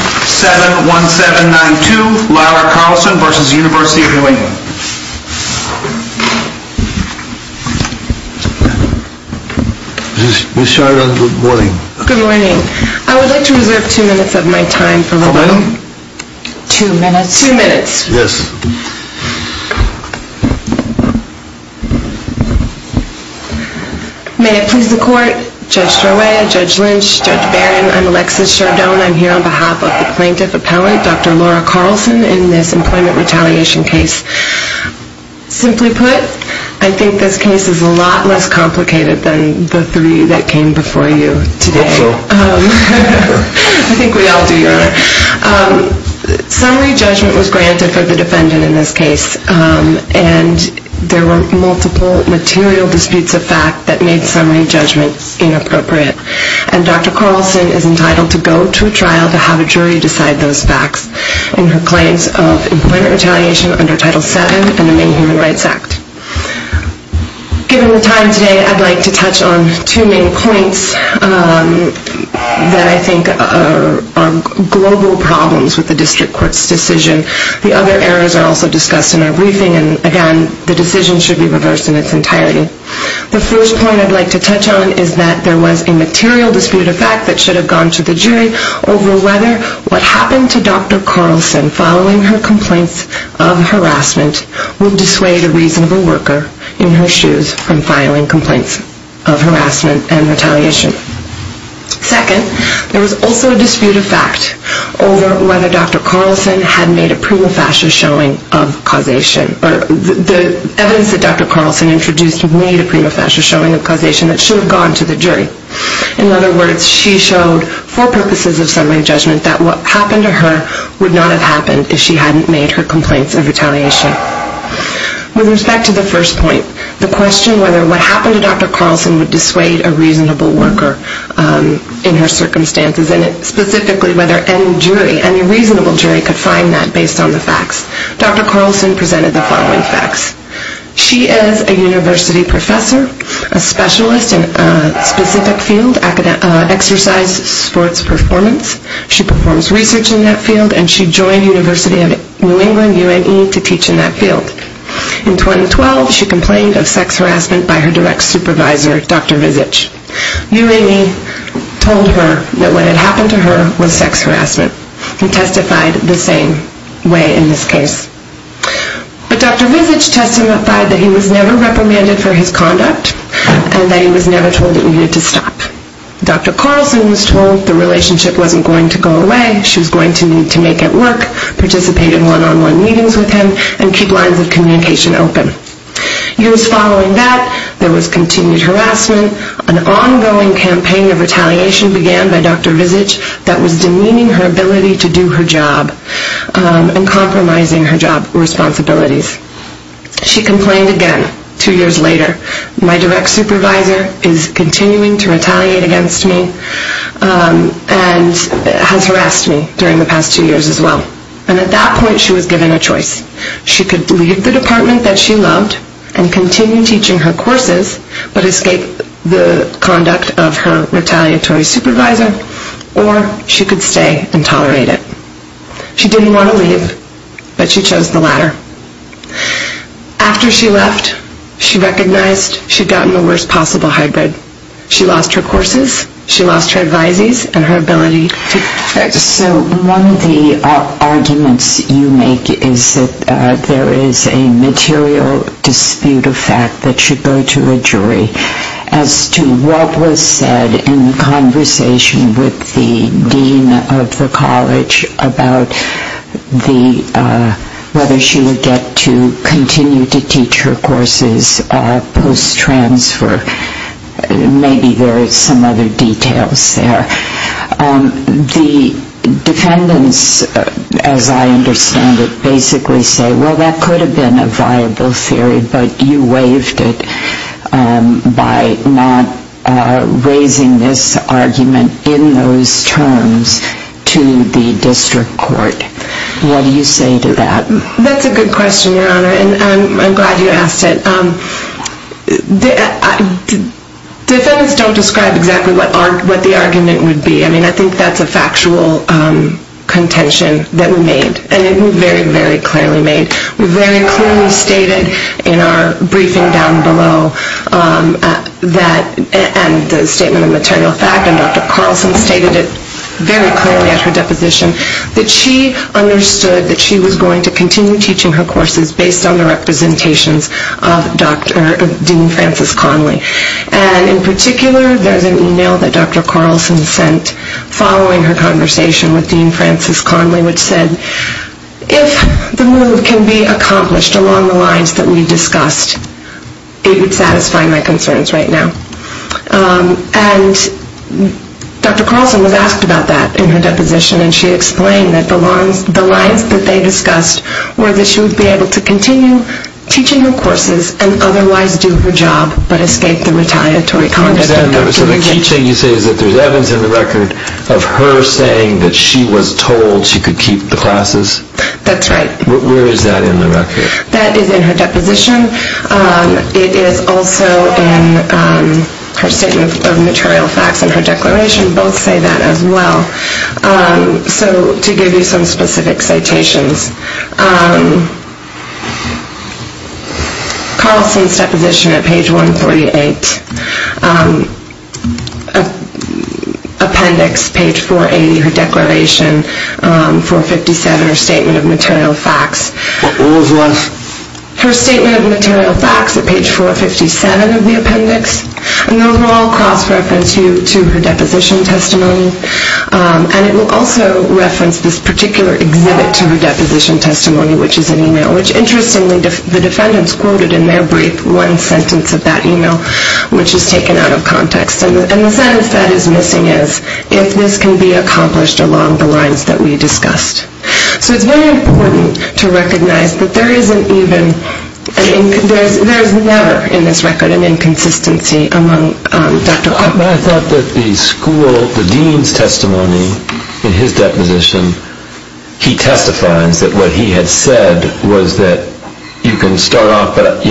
7-1-7-9-2 Lyler Carlson v. University of New England Ms. Sheridan, good morning. Good morning. I would like to reserve two minutes of my time for the meeting. Madam? Two minutes. Two minutes. Yes. May it please the court, Judge Torway, Judge Lynch, Judge Barron, I'm Alexis Sheridan. I'm here on behalf of the plaintiff appellate, Dr. Laura Carlson, in this employment retaliation case. Simply put, I think this case is a lot less complicated than the three that came before you today. I hope so. I think we all do, Your Honor. Summary judgment was granted for the defendant in this case, and there were multiple material disputes of fact that made summary judgment inappropriate. And Dr. Carlson is entitled to go to a trial to have a jury decide those facts in her claims of employment retaliation under Title VII and the Maine Human Rights Act. Given the time today, I'd like to touch on two main points that I think are global problems with the district court's decision. The other areas are also discussed in our briefing, and again, the decision should be reversed in its entirety. The first point I'd like to touch on is that there was a material dispute of fact that should have gone to the jury over whether what happened to Dr. Carlson following her complaints of harassment would dissuade a reasonable worker in her shoes from filing complaints of harassment and retaliation. Second, there was also a dispute of fact over whether Dr. Carlson had made a prima facie showing of causation, or the evidence that Dr. Carlson introduced made a prima facie showing of causation that should have gone to the jury. In other words, she showed for purposes of summary judgment that what happened to her would not have happened if she hadn't made her complaints of retaliation. With respect to the first point, the question whether what happened to Dr. Carlson would dissuade a reasonable worker in her circumstances, and specifically whether any reasonable jury could find that based on the facts, Dr. Carlson presented the following facts. She is a university professor, a specialist in a specific field, exercise, sports, performance. She performs research in that field, and she joined University of New England, UNE, to teach in that field. In 2012, she complained of sex harassment by her direct supervisor, Dr. Vizich. UNE told her that what had happened to her was sex harassment. He testified the same way in this case. But Dr. Vizich testified that he was never reprimanded for his conduct, and that he was never told that he needed to stop. Dr. Carlson was told the relationship wasn't going to go away. She was going to need to make it work, participate in one-on-one meetings with him, and keep lines of communication open. Years following that, there was continued harassment. An ongoing campaign of retaliation began by Dr. Vizich that was demeaning her ability to do her job and compromising her job responsibilities. She complained again two years later. My direct supervisor is continuing to retaliate against me and has harassed me during the past two years as well. And at that point, she was given a choice. She could leave the department that she loved and continue teaching her courses, but escape the conduct of her retaliatory supervisor, or she could stay and tolerate it. She didn't want to leave, but she chose the latter. After she left, she recognized she'd gotten the worst possible hybrid. She lost her courses, she lost her advisees, and her ability to practice. So one of the arguments you make is that there is a material dispute of fact that should go to a jury as to what was said in conversation with the dean of the college about whether she would get to continue to teach her courses post-transfer. Maybe there are some other details there. The defendants, as I understand it, basically say, well, that could have been a viable theory, but you waived it by not raising this argument in those terms to the district court. What do you say to that? That's a good question, Your Honor, and I'm glad you asked it. Defendants don't describe exactly what the argument would be. I mean, I think that's a factual contention that we made, and it was very, very clearly made. We very clearly stated in our briefing down below, and the statement of material fact, and Dr. Carlson stated it very clearly at her deposition, that she understood that she was going to continue teaching her courses based on the representations of Dean Francis Conley. And in particular, there's an e-mail that Dr. Carlson sent following her conversation with Dean Francis Conley, which said, if the move can be accomplished along the lines that we discussed, it would satisfy my concerns right now. And Dr. Carlson was asked about that in her deposition, and she explained that the lines that they discussed were that she would be able to continue teaching her courses and otherwise do her job but escape the retaliatory conduct of Dr. McGinnis. So the key thing you say is that there's evidence in the record of her saying that she was told she could keep the classes? That's right. Where is that in the record? That is in her deposition. It is also in her statement of material facts and her declaration. Both say that as well. So to give you some specific citations, Carlson's deposition at page 148, appendix, page 480, her declaration, 457, her statement of material facts. What was what? Her statement of material facts at page 457 of the appendix. And those will all cross-reference you to her deposition testimony. And it will also reference this particular exhibit to her deposition testimony, which is an email, which interestingly the defendants quoted in their brief one sentence of that email, which is taken out of context. And the sentence that is missing is, if this can be accomplished along the lines that we discussed. So it's very important to recognize that there is never in this record an inconsistency among Dr. Carlson. I thought that the school, the dean's testimony in his deposition, he testifies that what he had said was that you can start off, but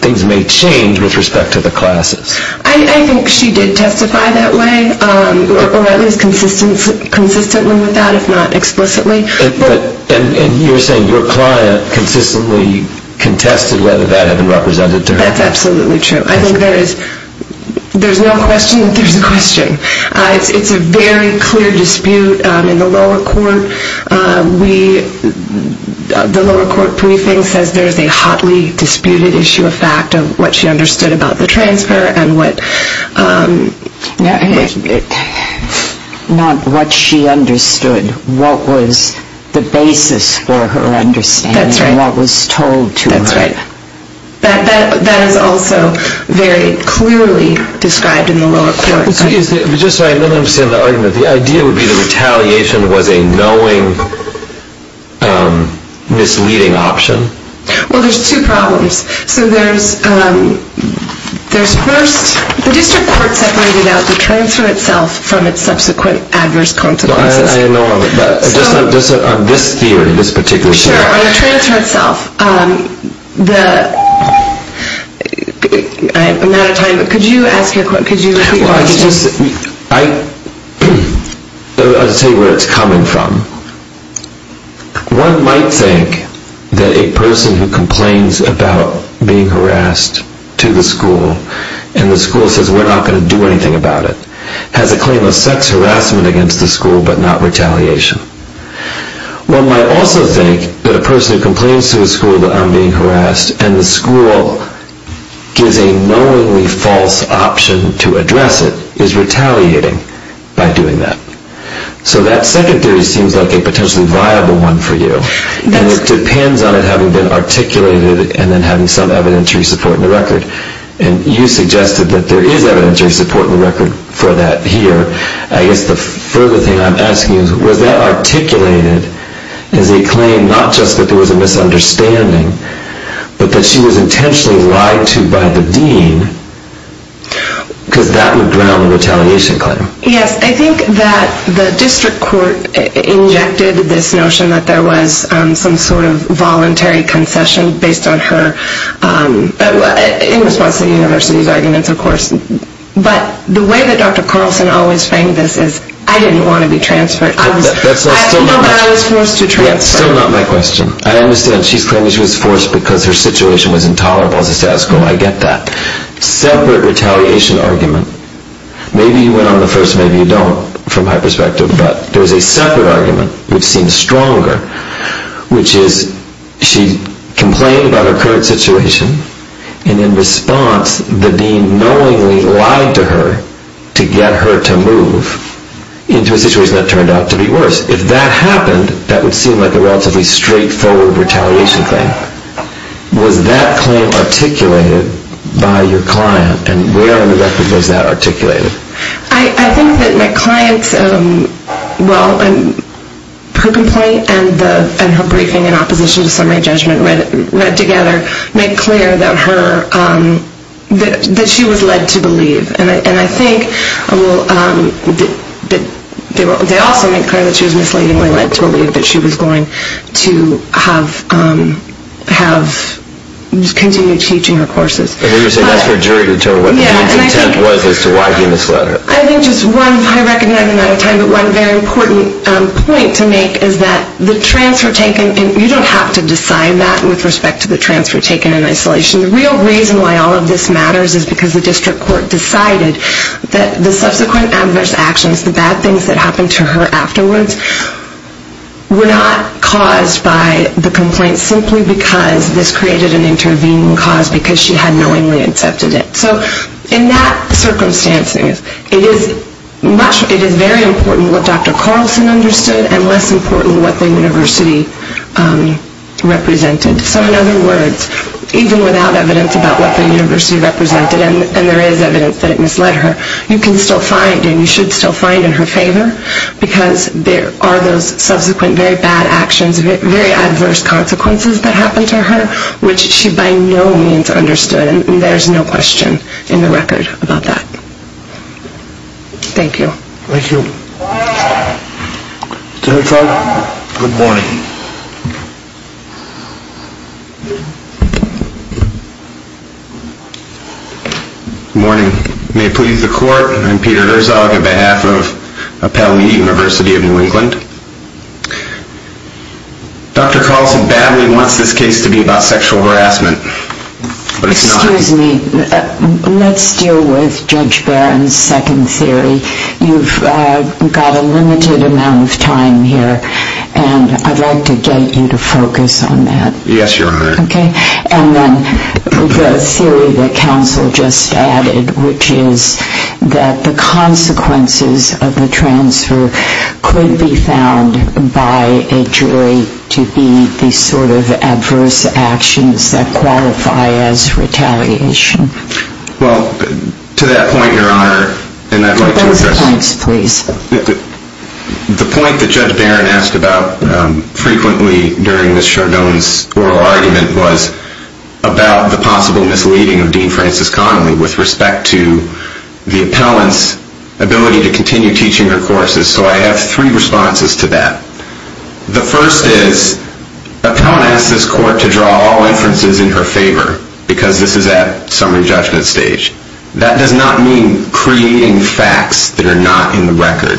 things may change with respect to the classes. I think she did testify that way, or at least consistently with that, if not explicitly. And you're saying your client consistently contested whether that had been represented to her. That's absolutely true. I think there's no question that there's a question. It's a very clear dispute in the lower court. The lower court briefing says there's a hotly disputed issue of fact of what she understood about the transfer and what... Not what she understood. What was the basis for her understanding. That's right. What was told to her. That's right. That is also very clearly described in the lower court. I'm sorry, I don't understand the argument. The idea would be that retaliation was a knowing, misleading option? Well, there's two problems. So there's first, the district court separated out the transfer itself from its subsequent adverse consequences. I know, but on this theory, this particular theory. Sure, on the transfer itself, the... I'm out of time, but could you ask your question? I'll tell you where it's coming from. One might think that a person who complains about being harassed to the school and the school says we're not going to do anything about it has a claim of sex harassment against the school but not retaliation. One might also think that a person who complains to a school that I'm being harassed and the school gives a knowingly false option to address it is retaliating by doing that. So that second theory seems like a potentially viable one for you. And it depends on it having been articulated and then having some evidentiary support in the record. And you suggested that there is evidentiary support in the record for that here. I guess the further thing I'm asking is, was that articulated as a claim not just that there was a misunderstanding but that she was intentionally lied to by the dean because that would ground the retaliation claim? Yes, I think that the district court injected this notion that there was some sort of voluntary concession based on her... in response to the university's arguments, of course. But the way that Dr. Carlson always framed this is, I didn't want to be transferred. I feel that I was forced to transfer. That's still not my question. I understand. She's claiming she was forced because her situation was intolerable as a status quo. I get that. Separate retaliation argument. Maybe you went on the first. Maybe you don't from my perspective. But there is a separate argument which seems stronger, which is she complained about her current situation and in response the dean knowingly lied to her to get her to move into a situation that turned out to be worse. If that happened, that would seem like a relatively straightforward retaliation claim. Was that claim articulated by your client? And where on the record was that articulated? I think that my client's... well, her complaint and her briefing in opposition to summary judgment read together made clear that she was led to believe. And I think they also made clear that she was misleadingly led to believe that she was going to continue teaching her courses. That's for a jury to determine what the dean's intent was as to why he misled her. I think just one, I recognize I'm out of time, but one very important point to make is that the transfer taken, and you don't have to decide that with respect to the transfer taken in isolation. The real reason why all of this matters is because the district court decided that the subsequent adverse actions, the bad things that happened to her afterwards, were not caused by the complaint simply because this created an intervening cause because she had knowingly accepted it. So in that circumstance, it is very important what Dr. Carlson understood and less important what the university represented. So in other words, even without evidence about what the university represented, and there is evidence that it misled her, you can still find and you should still find in her favor because there are those subsequent very bad actions, very adverse consequences that happened to her, which she by no means understood, and there's no question in the record about that. Thank you. Thank you. Judge Barron, good morning. Good morning. May it please the court, I'm Peter Herzog on behalf of Appellee University of New England. Dr. Carlson badly wants this case to be about sexual harassment, but it's not. Excuse me, let's deal with Judge Barron's second theory. You've got a limited amount of time here, and I'd like to get you to focus on that. Yes, Your Honor. And then the theory that counsel just added, which is that the consequences of the transfer could be found by a jury to be the sort of adverse actions that qualify as retaliation. Well, to that point, Your Honor, and I'd like to address... Both points, please. The point that Judge Barron asked about frequently during Ms. Chardone's oral argument was about the possible misleading of Dean Frances Connolly with respect to the appellant's ability to continue teaching her courses, so I have three responses to that. The first is, appellant asks this court to draw all inferences in her favor because this is at summary judgment stage. That does not mean creating facts that are not in the record.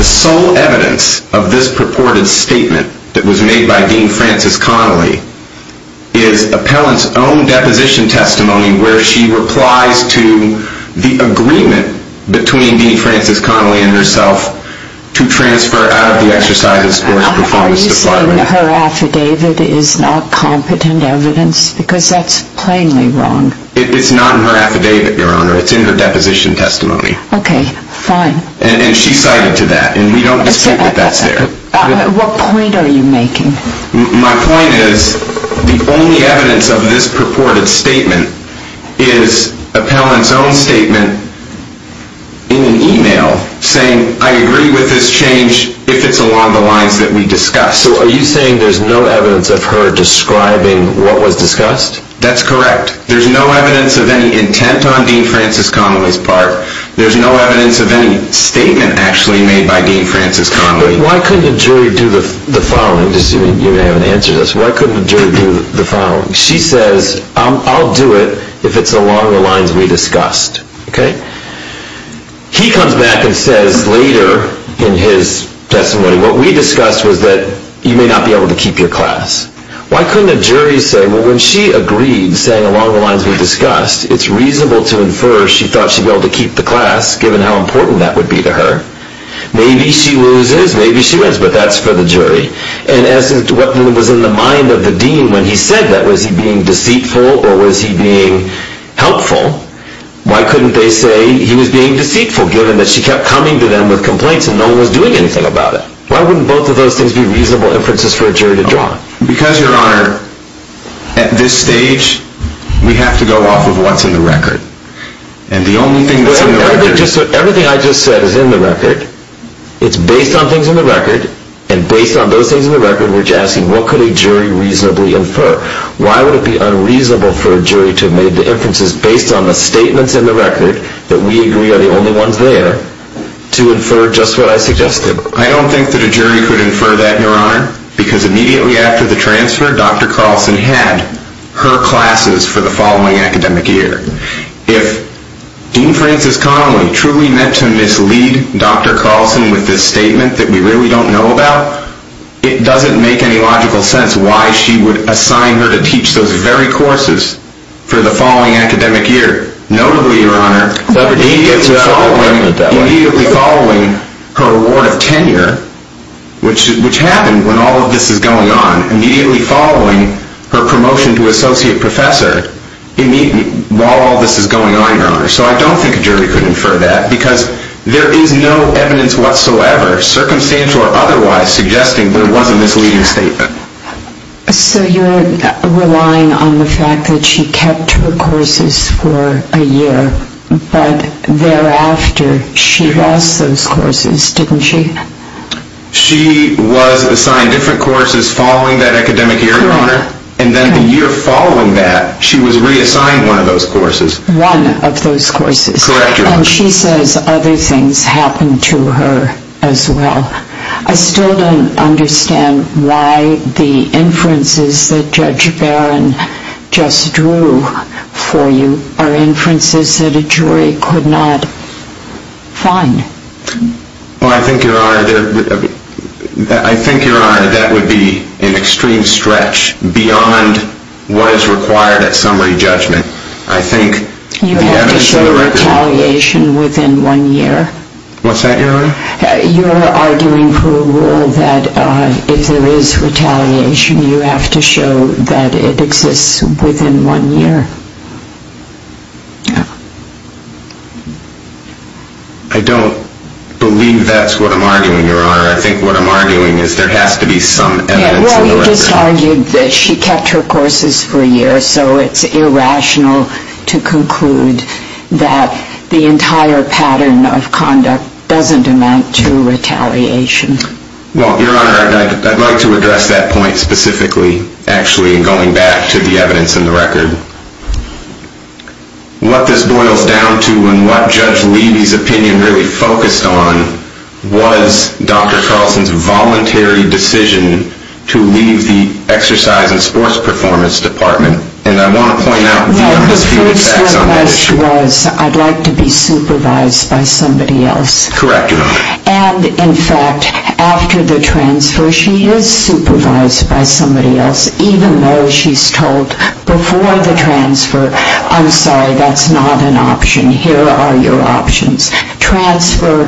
The sole evidence of this purported statement that was made by Dean Frances Connolly is appellant's own deposition testimony where she replies to the agreement between Dean Frances Connolly and herself to transfer out of the Exercise and Sports Performance Department. Are you saying her affidavit is not competent evidence? Because that's plainly wrong. It's not in her affidavit, Your Honor. It's in her deposition testimony. Okay, fine. And she cited to that, and we don't dispute that that's there. What point are you making? My point is, the only evidence of this purported statement is appellant's own statement in an email saying, I agree with this change if it's along the lines that we discussed. So are you saying there's no evidence of her describing what was discussed? That's correct. There's no evidence of any intent on Dean Frances Connolly's part. There's no evidence of any statement actually made by Dean Frances Connolly. Why couldn't a jury do the following? You haven't answered this. Why couldn't a jury do the following? She says, I'll do it if it's along the lines we discussed. Okay? He comes back and says later in his testimony, what we discussed was that you may not be able to keep your class. Why couldn't a jury say, well, when she agreed saying along the lines we discussed, it's reasonable to infer she thought she'd be able to keep the class given how important that would be to her. Maybe she loses, maybe she wins, but that's for the jury. And as to what was in the mind of the dean when he said that, was he being deceitful or was he being helpful? Why couldn't they say he was being deceitful given that she kept coming to them with complaints and no one was doing anything about it? Why wouldn't both of those things be reasonable inferences for a jury to draw? Because, Your Honor, at this stage, we have to go off of what's in the record. And the only thing that's in the record... Everything I just said is in the record. It's based on things in the record, and based on those things in the record, we're just asking what could a jury reasonably infer? Why would it be unreasonable for a jury to have made the inferences based on the statements in the record that we agree are the only ones there to infer just what I suggested? I don't think that a jury could infer that, Your Honor, because immediately after the transfer, Dr. Carlson had her classes for the following academic year. If Dean Frances Connolly truly meant to mislead Dr. Carlson with this statement that we really don't know about, it doesn't make any logical sense why she would assign her to teach those very courses for the following academic year. Notably, Your Honor, immediately following her award of tenure, which happened when all of this is going on, immediately following her promotion to associate professor, while all this is going on, Your Honor. So I don't think a jury could infer that, because there is no evidence whatsoever, circumstantial or otherwise, suggesting there was a misleading statement. So you're relying on the fact that she kept her courses for a year, but thereafter she lost those courses, didn't she? She was assigned different courses following that academic year, Your Honor, and then the year following that, she was reassigned one of those courses. One of those courses. Correct, Your Honor. And she says other things happened to her as well. I still don't understand why the inferences that Judge Barron just drew for you are inferences that a jury could not find. Well, I think, Your Honor, that would be an extreme stretch beyond what is required at summary judgment. You have to show retaliation within one year. What's that, Your Honor? You're arguing for a rule that if there is retaliation, you have to show that it exists within one year. Yeah. I don't believe that's what I'm arguing, Your Honor. I think what I'm arguing is there has to be some evidence in the record. Yeah, well, you just argued that she kept her courses for a year, so it's irrational to conclude that the entire pattern of conduct doesn't amount to retaliation. Well, Your Honor, I'd like to address that point specifically, actually in going back to the evidence in the record. What this boils down to and what Judge Levy's opinion really focused on was Dr. Carlson's voluntary decision to leave the exercise and sports performance department. And I want to point out the undisputed facts on that issue. Well, the first request was, I'd like to be supervised by somebody else. Correct, Your Honor. And, in fact, after the transfer, she is supervised by somebody else, even though she's told before the transfer, I'm sorry, that's not an option. Here are your options. Transfer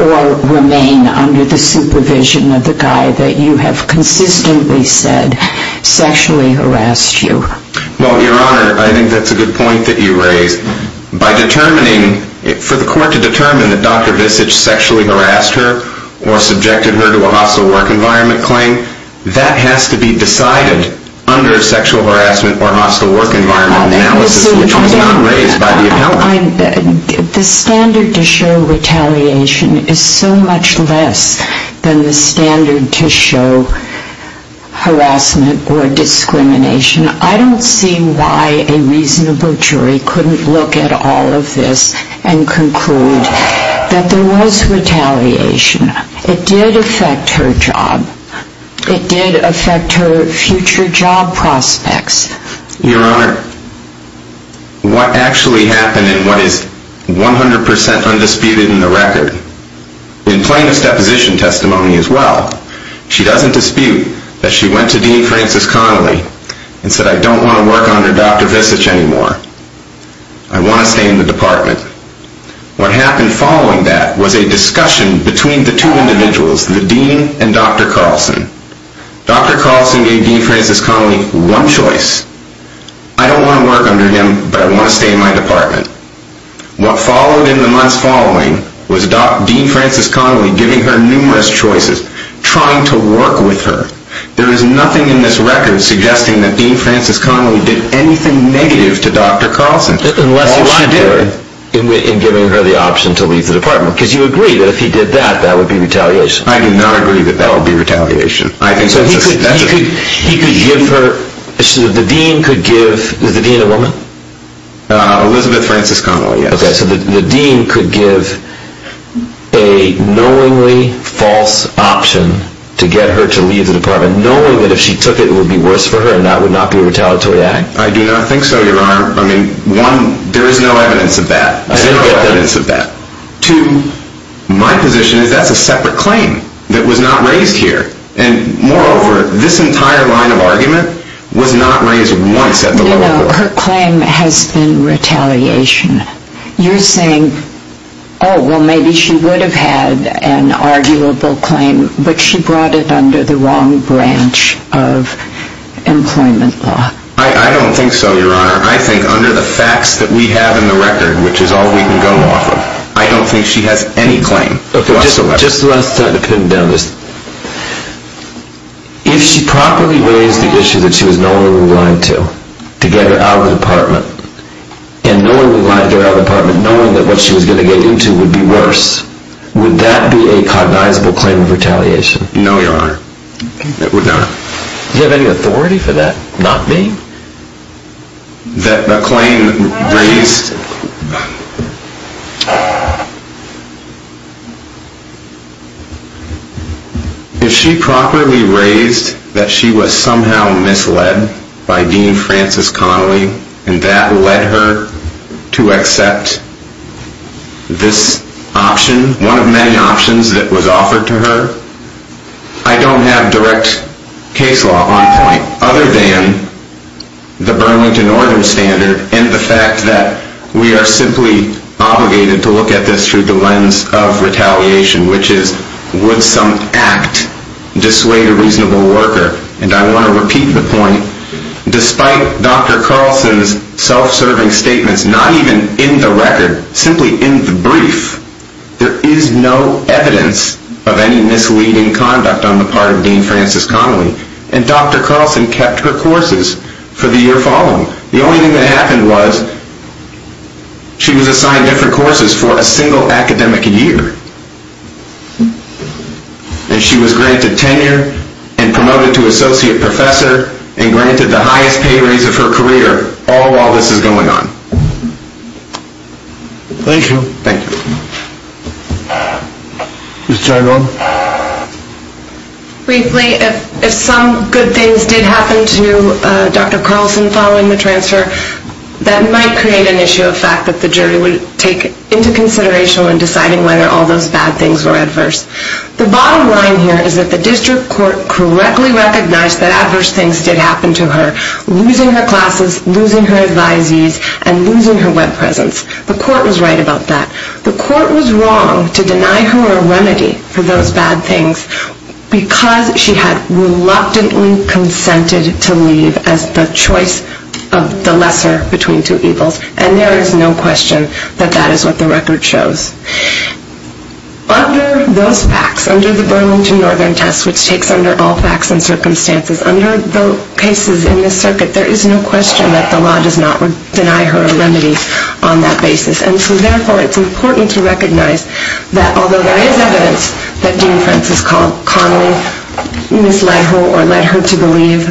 or remain under the supervision of the guy that you have consistently said sexually harassed you. Well, Your Honor, I think that's a good point that you raised. By determining, for the court to determine that Dr. Visich sexually harassed her or subjected her to a hostile work environment claim, that has to be decided under sexual harassment or hostile work environment analysis, which was not raised by the appellant. The standard to show retaliation is so much less than the standard to show harassment or discrimination. I don't see why a reasonable jury couldn't look at all of this and conclude that there was retaliation. It did affect her job. It did affect her future job prospects. Your Honor, what actually happened in what is 100% undisputed in the record, in plaintiff's deposition testimony as well, she doesn't dispute that she went to Dean Francis Connolly and said, I don't want to work under Dr. Visich anymore. I want to stay in the department. What happened following that was a discussion between the two individuals, the dean and Dr. Carlson. Dr. Carlson gave Dean Francis Connolly one choice. I don't want to work under him, but I want to stay in my department. What followed in the months following was Dean Francis Connolly giving her numerous choices, trying to work with her. There is nothing in this record suggesting that Dean Francis Connolly did anything negative to Dr. Carlson. Unless she lied to her in giving her the option to leave the department, because you agree that if he did that, that would be retaliation. I do not agree that that would be retaliation. So he could give her, the dean could give, is the dean a woman? Elizabeth Francis Connolly, yes. Okay, so the dean could give a knowingly false option to get her to leave the department, knowing that if she took it, it would be worse for her and that would not be a retaliatory act? I do not think so, Your Honor. I mean, one, there is no evidence of that. There is no evidence of that. Two, my position is that is a separate claim that was not raised here. And moreover, this entire line of argument was not raised once at the lower court. You know, her claim has been retaliation. You are saying, oh, well, maybe she would have had an arguable claim, but she brought it under the wrong branch of employment law. I do not think so, Your Honor. I think under the facts that we have in the record, which is all we can go off of, I don't think she has any claim whatsoever. Okay, just the last time to pin down this. If she properly raised the issue that she was knowingly lying to to get her out of the department and knowingly lying to her out of the department, knowing that what she was going to get into would be worse, would that be a cognizable claim of retaliation? No, Your Honor, it would not. Do you have any authority for that? Not me? That the claim raised... If she properly raised that she was somehow misled by Dean Francis Connolly and that led her to accept this option, one of many options that was offered to her, I don't have direct case law on point other than the Burlington Ordinance Standard and the fact that we are simply obligated to look at this through the lens of retaliation, which is would some act dissuade a reasonable worker? And I want to repeat the point. Despite Dr. Carlson's self-serving statements, not even in the record, simply in the brief, there is no evidence of any misleading conduct on the part of Dean Francis Connolly and Dr. Carlson kept her courses for the year following. The only thing that happened was she was assigned different courses for a single academic year and she was granted tenure and promoted to associate professor and granted the highest pay raise of her career all while this is going on. Thank you. Thank you. Ms. Trenholm. Briefly, if some good things did happen to Dr. Carlson following the transfer, that might create an issue of fact that the jury would take into consideration when deciding whether all those bad things were adverse. The bottom line here is that the district court correctly recognized that adverse things did happen to her, losing her classes, losing her advisees, and losing her web presence. The court was right about that. The court was wrong to deny her a remedy for those bad things because she had reluctantly consented to leave as the choice of the lesser between two evils and there is no question that that is what the record shows. Under those facts, under the Burlington Northern test, which takes under all facts and circumstances, under the cases in this circuit, there is no question that the law does not deny her a remedy on that basis and so therefore it's important to recognize that although there is evidence that Dean Francis calmly misled her or led her to believe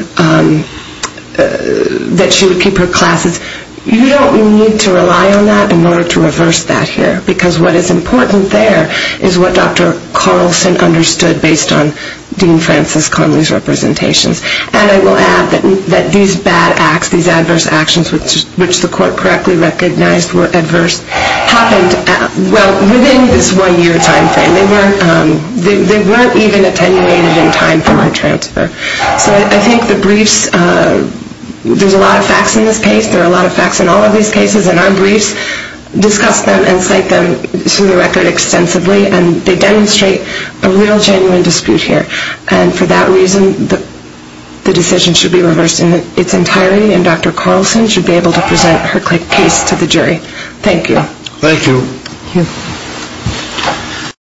that she would keep her classes, you don't need to rely on that in order to reverse that here because what is important there is what Dr. Carlson understood based on Dean Francis Conley's representations. And I will add that these bad acts, these adverse actions, which the court correctly recognized were adverse, happened within this one-year time frame. They weren't even attenuated in time for her transfer. So I think the briefs, there's a lot of facts in this case. There are a lot of facts in all of these cases and our briefs discuss them and cite them to the record extensively and they demonstrate a real genuine dispute here. And for that reason, the decision should be reversed in its entirety and Dr. Carlson should be able to present her case to the jury. Thank you. Thank you.